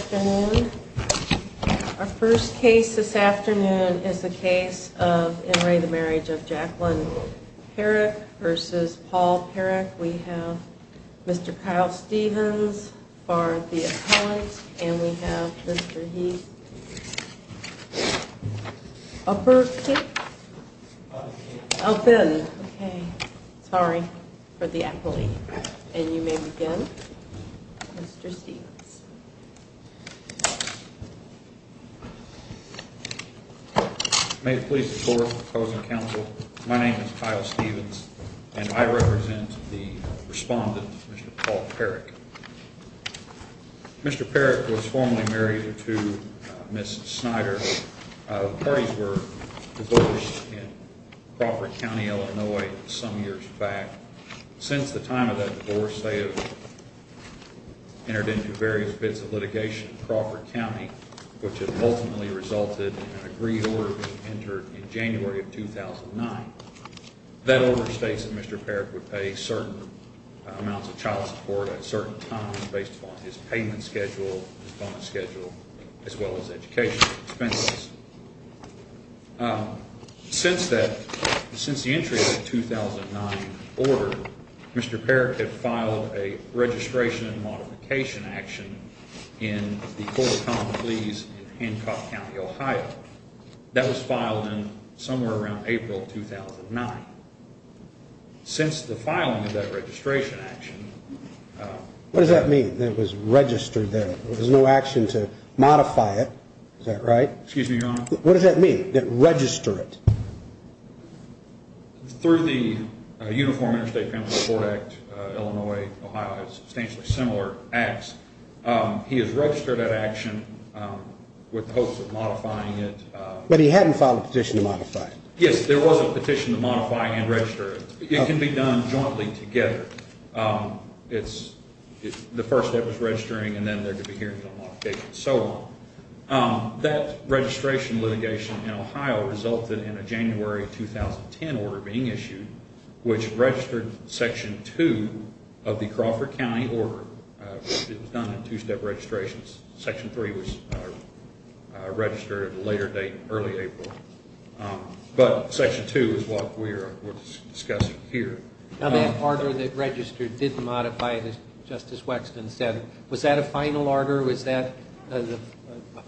Our first case this afternoon is the case of In Re the Marriage of Jacqueline Parrick versus Paul Parrick. We have Mr. Kyle Stevens for the appellant and we have Mr. Heath for the appellant. Okay. Sorry for the appellee. And you may begin, Mr. Stevens. May it please the court, opposing counsel, my name is Kyle Stevens and I represent the respondent, Mr. Paul Parrick. Mr. Parrick was formerly married to Ms. Snyder. The parties were divorced in Crawford County, Illinois some years back. Since the time of that divorce, they have entered into various bits of litigation in Crawford County, which has ultimately resulted in an agreed order being entered in January of 2009. That order states that Mr. Parrick would pay certain amounts of child support at a certain time based upon his payment schedule, his bonus schedule, as well as educational expenses. Since the entry of the 2009 order, Mr. Parrick had filed a registration and modification action in the court of common pleas in Hancock County, Ohio. That was filed in somewhere around April 2009. Since the filing of that registration action... What does that mean, that it was registered there? There was no action to modify it, is that right? Excuse me, Your Honor. What does that mean, that register it? Through the Uniform Interstate Family Support Act, Illinois, Ohio has substantially similar acts. He has registered that action with the hopes of modifying it. But he hadn't filed a petition to modify it. Yes, there was a petition to modify and register it. It can be done jointly together. The first step is registering and then there could be hearings on modification and so on. That registration litigation in Ohio resulted in a January 2010 order being issued, which registered Section 2 of the Crawford County order. It was done in two-step registrations. Section 3 was registered at a later date, early April. But Section 2 is what we're discussing here. Now that order that registered didn't modify it, as Justice Wexton said. Was that a final order? Was that a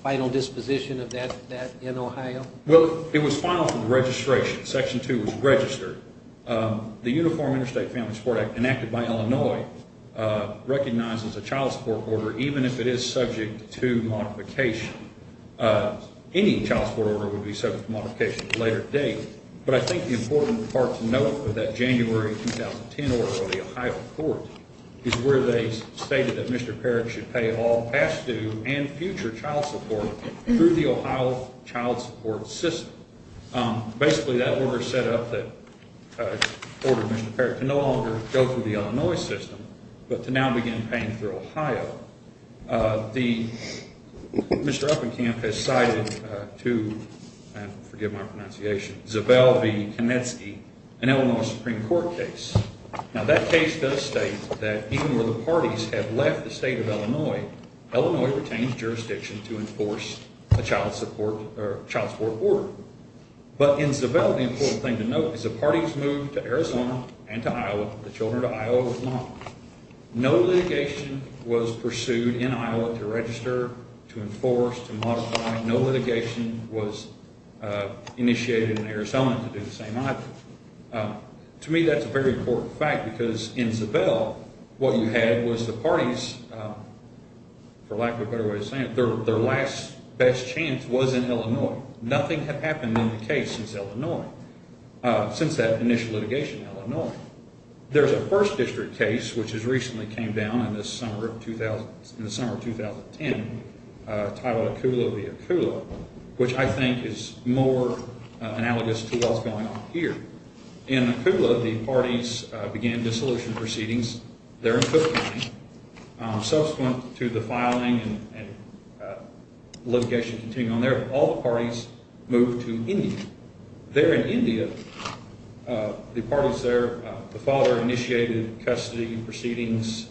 final disposition of that in Ohio? Well, it was filed for registration. Section 2 was registered. The Uniform Interstate Family Support Act enacted by Illinois recognizes a child support order even if it is subject to modification. Any child support order would be subject to modification at a later date. But I think the important part to note for that January 2010 order by the Ohio court is where they stated that Mr. Parrott should pay all past due and future child support through the Ohio child support system. Basically, that order set up that ordered Mr. Parrott to no longer go through the Illinois system, but to now begin paying through Ohio. Mr. Uppenkamp has cited to, forgive my pronunciation, Zabel V. Konecki, an Illinois Supreme Court case. Now that case does state that even where the parties have left the state of Illinois, Illinois retains jurisdiction to enforce a child support order. But in Zabel, the important thing to note is the parties moved to Arizona and to Iowa, the children to Iowa were not. No litigation was pursued in Iowa to register, to enforce, to modify. No litigation was initiated in Arizona to do the same. To me, that's a very important fact because in Zabel, what you had was the parties, for lack of a better way of saying it, their last best chance was in Illinois. Nothing had happened in the case since Illinois, since that initial litigation in Illinois. There's a first district case, which has recently came down in the summer of 2010, titled Akula v. Akula, which I think is more analogous to what's going on here. In Akula, the parties began dissolution proceedings there in Cook County. Subsequent to the filing and litigation continuing on there, all the parties moved to India. There in India, the parties there, the father initiated custody proceedings,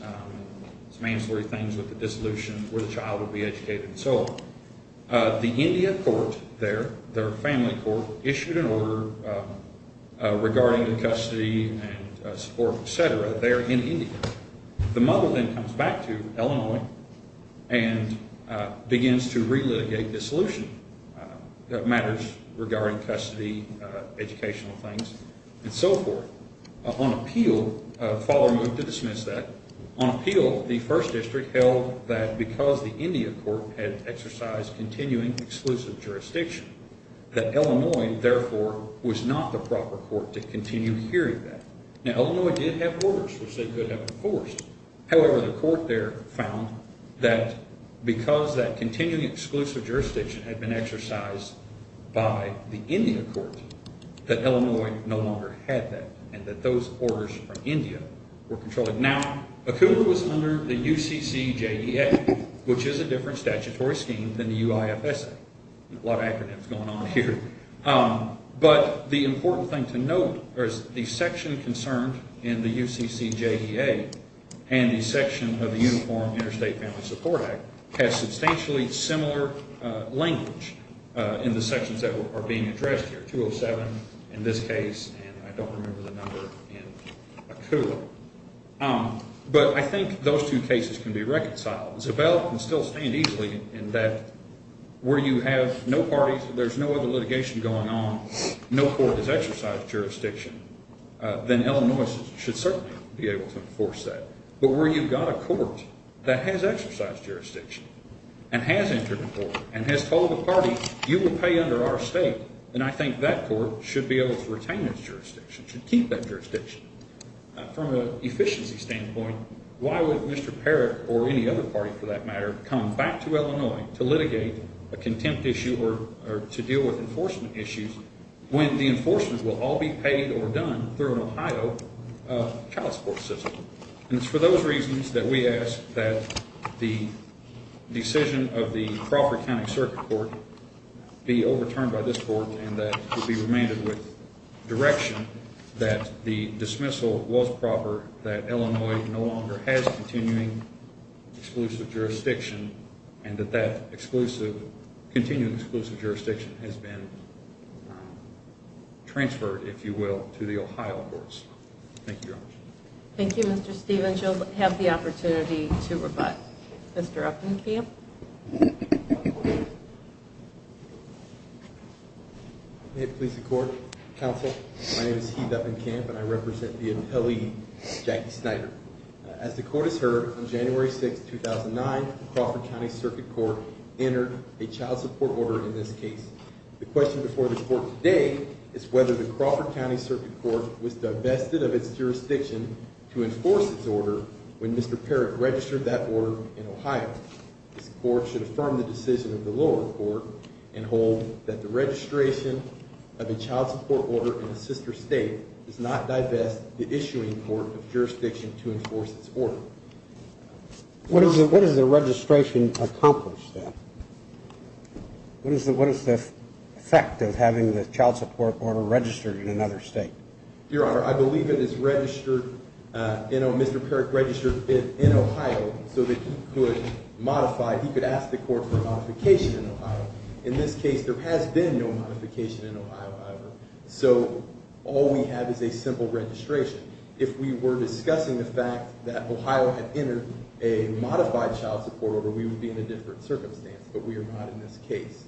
some ancillary things with the dissolution where the child would be educated and so on. The India court there, their family court, issued an order regarding the custody and support, et cetera, there in India. The mother then comes back to Illinois and begins to relitigate dissolution matters regarding custody, educational things, and so forth. On appeal, the father moved to dismiss that. On appeal, the first district held that because the India court had exercised continuing exclusive jurisdiction, that Illinois, therefore, was not the proper court to continue hearing that. Illinois did have orders, which they could have enforced. However, the court there found that because that continuing exclusive jurisdiction had been exercised by the India court, that Illinois no longer had that and that those orders from India were controlled. Now, Akula was under the UCCJDA, which is a different statutory scheme than the UIFSA. A lot of acronyms going on here. But the important thing to note is the section concerned in the UCCJDA and the section of the Uniform Interstate Family Support Act has substantially similar language in the sections that are being addressed here. 207 in this case, and I don't remember the number in Akula. But I think those two cases can be reconciled. Zabel can still stand easily in that where you have no parties, there's no other litigation going on, no court has exercised jurisdiction, then Illinois should certainly be able to enforce that. But where you've got a court that has exercised jurisdiction and has entered the court and has told the party, you will pay under our state, then I think that court should be able to retain its jurisdiction, should keep that jurisdiction. From an efficiency standpoint, why would Mr. Parrott or any other party for that matter come back to Illinois to litigate a contempt issue or to deal with enforcement issues when the enforcement will all be paid or done through an Ohio child support system? And it's for those reasons that we ask that the decision of the Crawford County Circuit Court be overturned by this court and that it be remanded with direction that the dismissal was proper, that Illinois no longer has continuing exclusive jurisdiction, and that that continuing exclusive jurisdiction has been transferred, if you will, to the Ohio courts. Thank you, Your Honor. Thank you, Mr. Stevens. You'll have the opportunity to rebut. Mr. Uppenkamp? May it please the court, counsel, my name is Heath Uppenkamp and I represent the appellee, Jackie Snyder. As the court has heard, on January 6, 2009, the Crawford County Circuit Court entered a child support order in this case. The question before the court today is whether the Crawford County Circuit Court was divested of its jurisdiction to enforce its order when Mr. Parrott registered that order in Ohio. This court should affirm the decision of the lower court and hold that the registration of a child support order in a sister state does not divest the issuing court of jurisdiction to enforce its order. What is the registration accomplish, then? What is the effect of having the child support order registered in another state? Your Honor, I believe it is registered, you know, Mr. Parrott registered it in Ohio so that he could modify, he could ask the court for a modification in Ohio. In this case, there has been no modification in Ohio, however, so all we have is a simple registration. If we were discussing the fact that Ohio had entered a modified child support order, we would be in a different circumstance, but we are not in this case.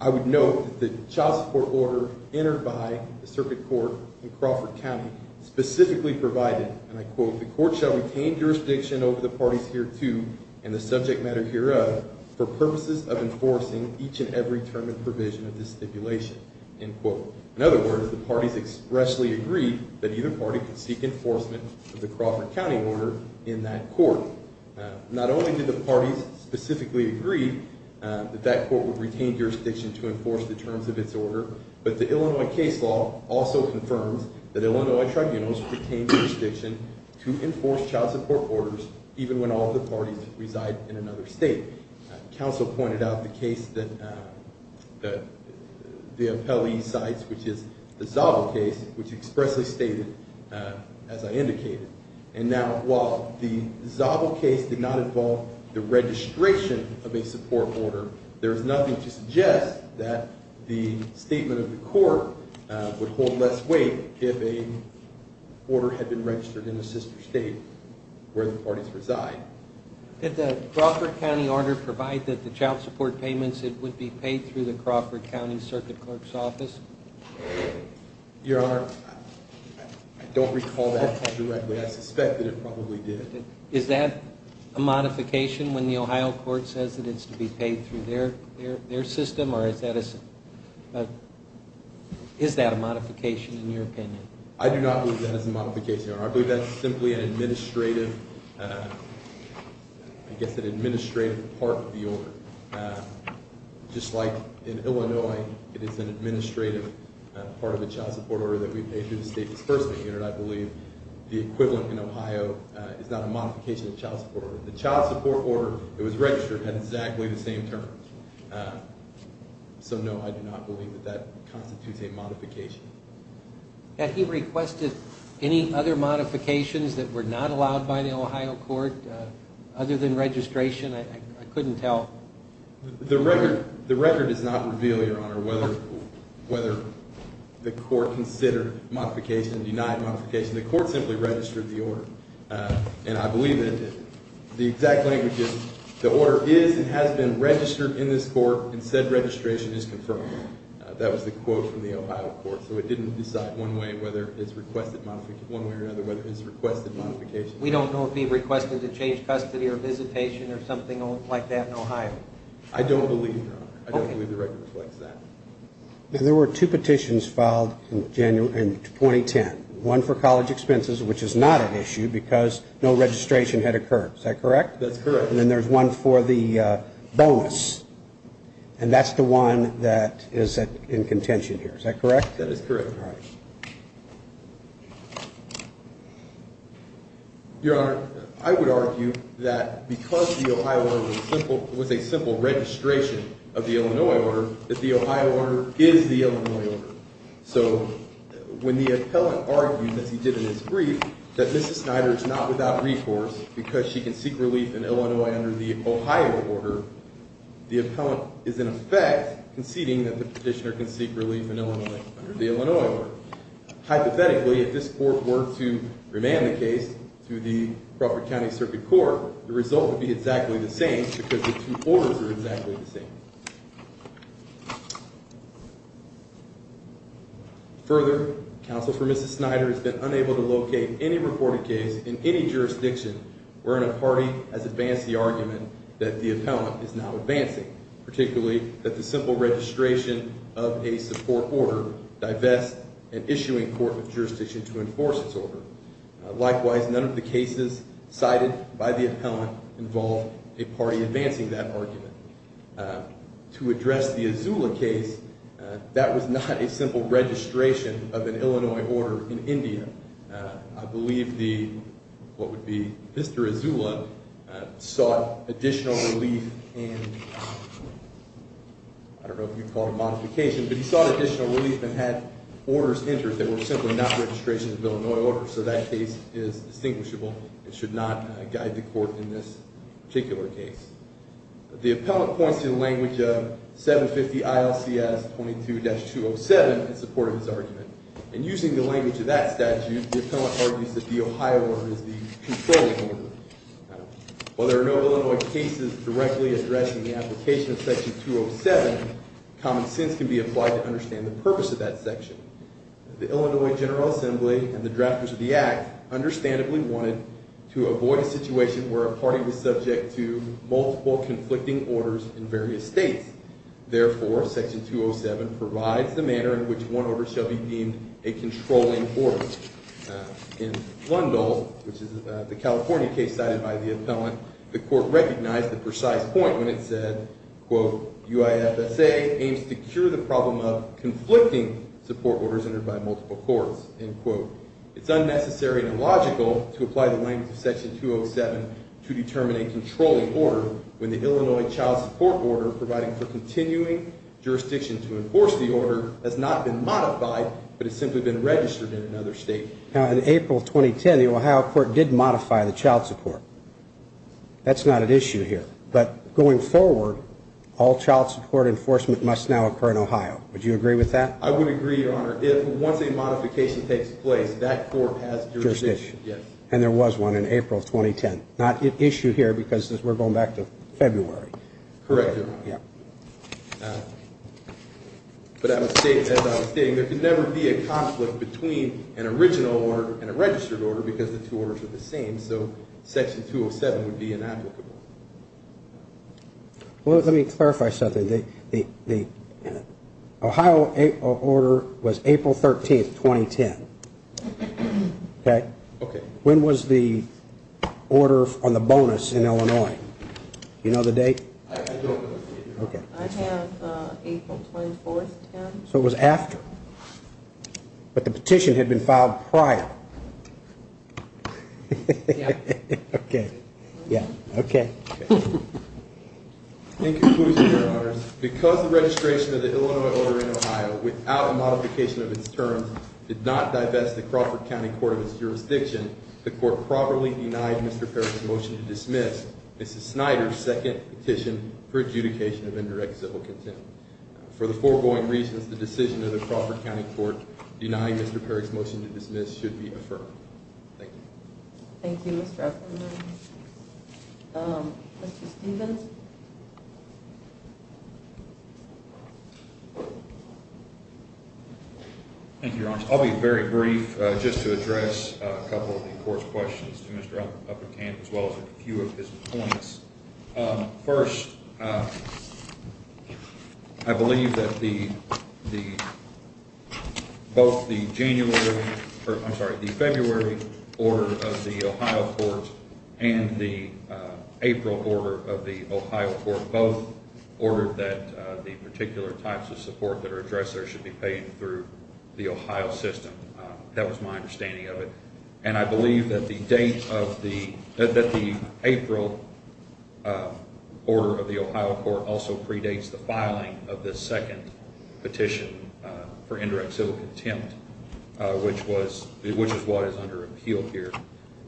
I would note that the child support order entered by the circuit court in Crawford County specifically provided, and I quote, the court shall retain jurisdiction over the parties hereto and the subject matter hereof for purposes of enforcing each and every term and provision of this stipulation, end quote. In other words, the parties expressly agreed that either party could seek enforcement of the Crawford County order in that court. Not only did the parties specifically agree that that court would retain jurisdiction to enforce the terms of its order, but the Illinois case law also confirms that Illinois tribunals retain jurisdiction to enforce child support orders even when all the parties reside in another state. Counsel pointed out the case that the appellee cites, which is the Zabo case, which expressly stated, as I indicated. And now, while the Zabo case did not involve the registration of a support order, there is nothing to suggest that the statement of the court would hold less weight if a order had been registered in a sister state where the parties reside. Did the Crawford County order provide that the child support payments would be paid through the Crawford County circuit clerk's office? Your Honor, I don't recall that directly. I suspect that it probably did. Is that a modification when the Ohio court says that it's to be paid through their system, or is that a modification in your opinion? I do not believe that is a modification, Your Honor. I believe that's simply an administrative part of the order. Just like in Illinois, it is an administrative part of the child support order that we pay through the state disbursement unit, I believe the equivalent in Ohio is not a modification of the child support order. The child support order that was registered had exactly the same terms. So, no, I do not believe that that constitutes a modification. Had he requested any other modifications that were not allowed by the Ohio court other than registration? I couldn't tell. The record does not reveal, Your Honor, whether the court considered modification, denied modification. The court simply registered the order. And I believe that the exact language is, the order is and has been registered in this court and said registration is confirmed. That was the quote from the Ohio court. So it didn't decide one way or another whether it's requested modification. We don't know if he requested to change custody or visitation or something like that in Ohio. I don't believe, Your Honor. I don't believe the record reflects that. There were two petitions filed in 2010. One for college expenses, which is not an issue because no registration had occurred. Is that correct? That's correct. And then there's one for the bonus. And that's the one that is in contention here. Is that correct? That is correct. Your Honor, I would argue that because the Ohio order was a simple registration of the Illinois order, that the Ohio order is the Illinois order. So when the appellant argued, as he did in his brief, that Mrs. Snyder is not without recourse because she can seek relief in Illinois under the Ohio order, the appellant is in effect conceding that the petitioner can seek relief in Illinois under the Illinois order. Hypothetically, if this court were to remand the case to the Crawford County Circuit Court, the result would be exactly the same because the two orders are exactly the same. Further, counsel for Mrs. Snyder has been unable to locate any reported case in any jurisdiction where a party has advanced the argument that the appellant is not advancing, particularly that the simple registration of a support order divests an issuing court of jurisdiction to enforce its order. Likewise, none of the cases cited by the appellant involve a party advancing that argument. To address the Azula case, that was not a simple registration of an Illinois order in India. I believe the, what would be Mr. Azula, sought additional relief and, I don't know if you'd call it a modification, but he sought additional relief and had orders entered that were simply not registrations of Illinois orders. So that case is distinguishable and should not guide the court in this particular case. The appellant points to the language of 750 ILCS 22-207 in support of his argument. In using the language of that statute, the appellant argues that the Ohio order is the controlling order. While there are no Illinois cases directly addressing the application of Section 207, common sense can be applied to understand the purpose of that section. The Illinois General Assembly and the drafters of the Act understandably wanted to avoid a situation where a party was subject to multiple conflicting orders in various states. Therefore, Section 207 provides the manner in which one order shall be deemed a controlling order. In Lundahl, which is the California case cited by the appellant, the court recognized the precise point when it said, quote, UIFSA aims to cure the problem of conflicting support orders entered by multiple courts, end quote. It's unnecessary and illogical to apply the language of Section 207 to determine a controlling order when the Illinois child support order providing for continuing jurisdiction to enforce the order has not been modified, but has simply been registered in another state. Now, in April 2010, the Ohio court did modify the child support. That's not an issue here. But going forward, all child support enforcement must now occur in Ohio. Would you agree with that? I would agree, Your Honor. If once a modification takes place, that court has jurisdiction. And there was one in April 2010. Not an issue here because we're going back to February. Correct, Your Honor. Yeah. But as I was stating, there could never be a conflict between an original order and a registered order because the two orders are the same. So Section 207 would be inapplicable. Well, let me clarify something. The Ohio order was April 13, 2010. Okay. When was the order on the bonus in Illinois? Do you know the date? I don't. Okay. I have April 24, 2010. So it was after. But the petition had been filed prior. Yeah. Okay. Okay. In conclusion, Your Honors, because the registration of the Illinois order in Ohio without a modification of its terms did not divest the Crawford County court of its jurisdiction, the court properly denied Mr. Perry's motion to dismiss Mrs. Snyder's second petition for adjudication of indirect civil contempt. For the foregoing reasons, the decision of the Crawford County court denying Mr. Perry's motion to dismiss should be affirmed. Thank you. Thank you, Mr. Ecklund. Mr. Stephens? Thank you, Your Honors. I'll be very brief just to address a couple of the court's questions to Mr. Uppercant as well as a few of his points. First, I believe that both the January or, I'm sorry, the February order of the Ohio court and the April order of the Ohio court both ordered that the particular types of support that are addressed there should be paid through the Ohio system. That was my understanding of it. And I believe that the April order of the Ohio court also predates the filing of the second petition for indirect civil contempt, which is what is under appeal here.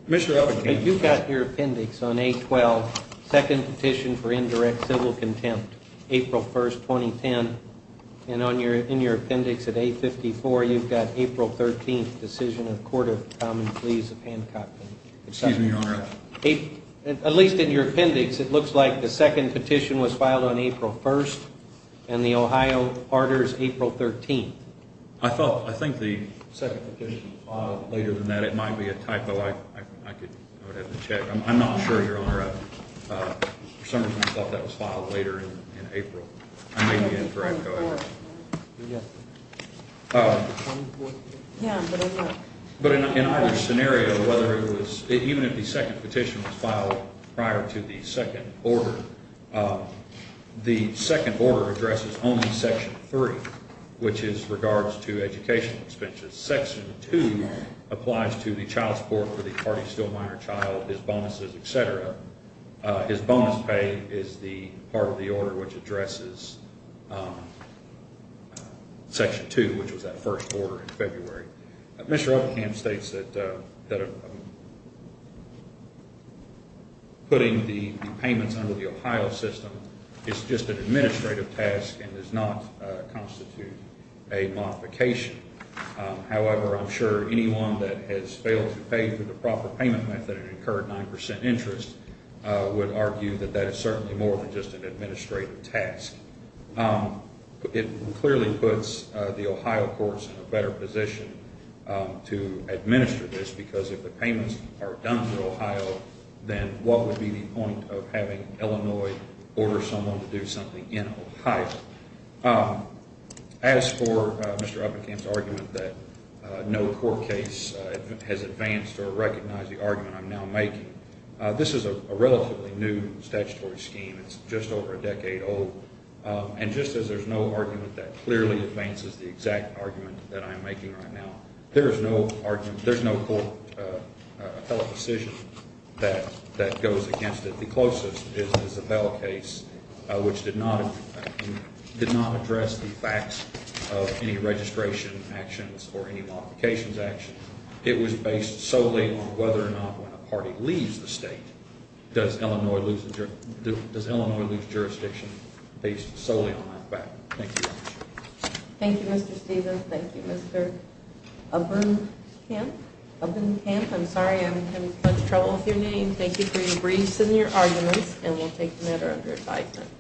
Mr. Uppercant? You've got your appendix on A-12, second petition for indirect civil contempt, April 1st, 2010. And in your appendix at A-54, you've got April 13th, decision of the Court of Common Pleas of Hancock County. Excuse me, Your Honor. At least in your appendix, it looks like the second petition was filed on April 1st and the Ohio order is April 13th. I think the second petition was filed later than that. It might be a typo. I would have to check. I'm not sure, Your Honor. For some reason, I thought that was filed later in April. I may be incorrect. Go ahead. Yes. Yeah, but I'm not. But in either scenario, even if the second petition was filed prior to the second order, the second order addresses only Section 3, which is regards to educational expenses. Section 2 applies to the child support for the party still minor child, his bonuses, et cetera. His bonus pay is the part of the order which addresses Section 2, which was that first order in February. Mr. Upkamp states that putting the payments under the Ohio system is just an administrative task and does not constitute a modification. However, I'm sure anyone that has failed to pay for the proper payment method and incurred 9% interest would argue that that is certainly more than just an administrative task. It clearly puts the Ohio courts in a better position to administer this because if the payments are done for Ohio, then what would be the point of having Illinois order someone to do something in Ohio? As for Mr. Upkamp's argument that no court case has advanced or recognized the argument I'm now making, this is a relatively new statutory scheme. It's just over a decade old. And just as there's no argument that clearly advances the exact argument that I'm making right now, there is no court decision that goes against it. The closest is the Bell case, which did not address the facts of any registration actions or any modifications actions. It was based solely on whether or not when a party leaves the state, does Illinois lose jurisdiction based solely on that fact. Thank you very much. Thank you, Mr. Stevens. Thank you, Mr. Upkamp. Upkamp, I'm sorry I'm having trouble with your name. Thank you for your briefs and your arguments, and we'll take the matter under advisement.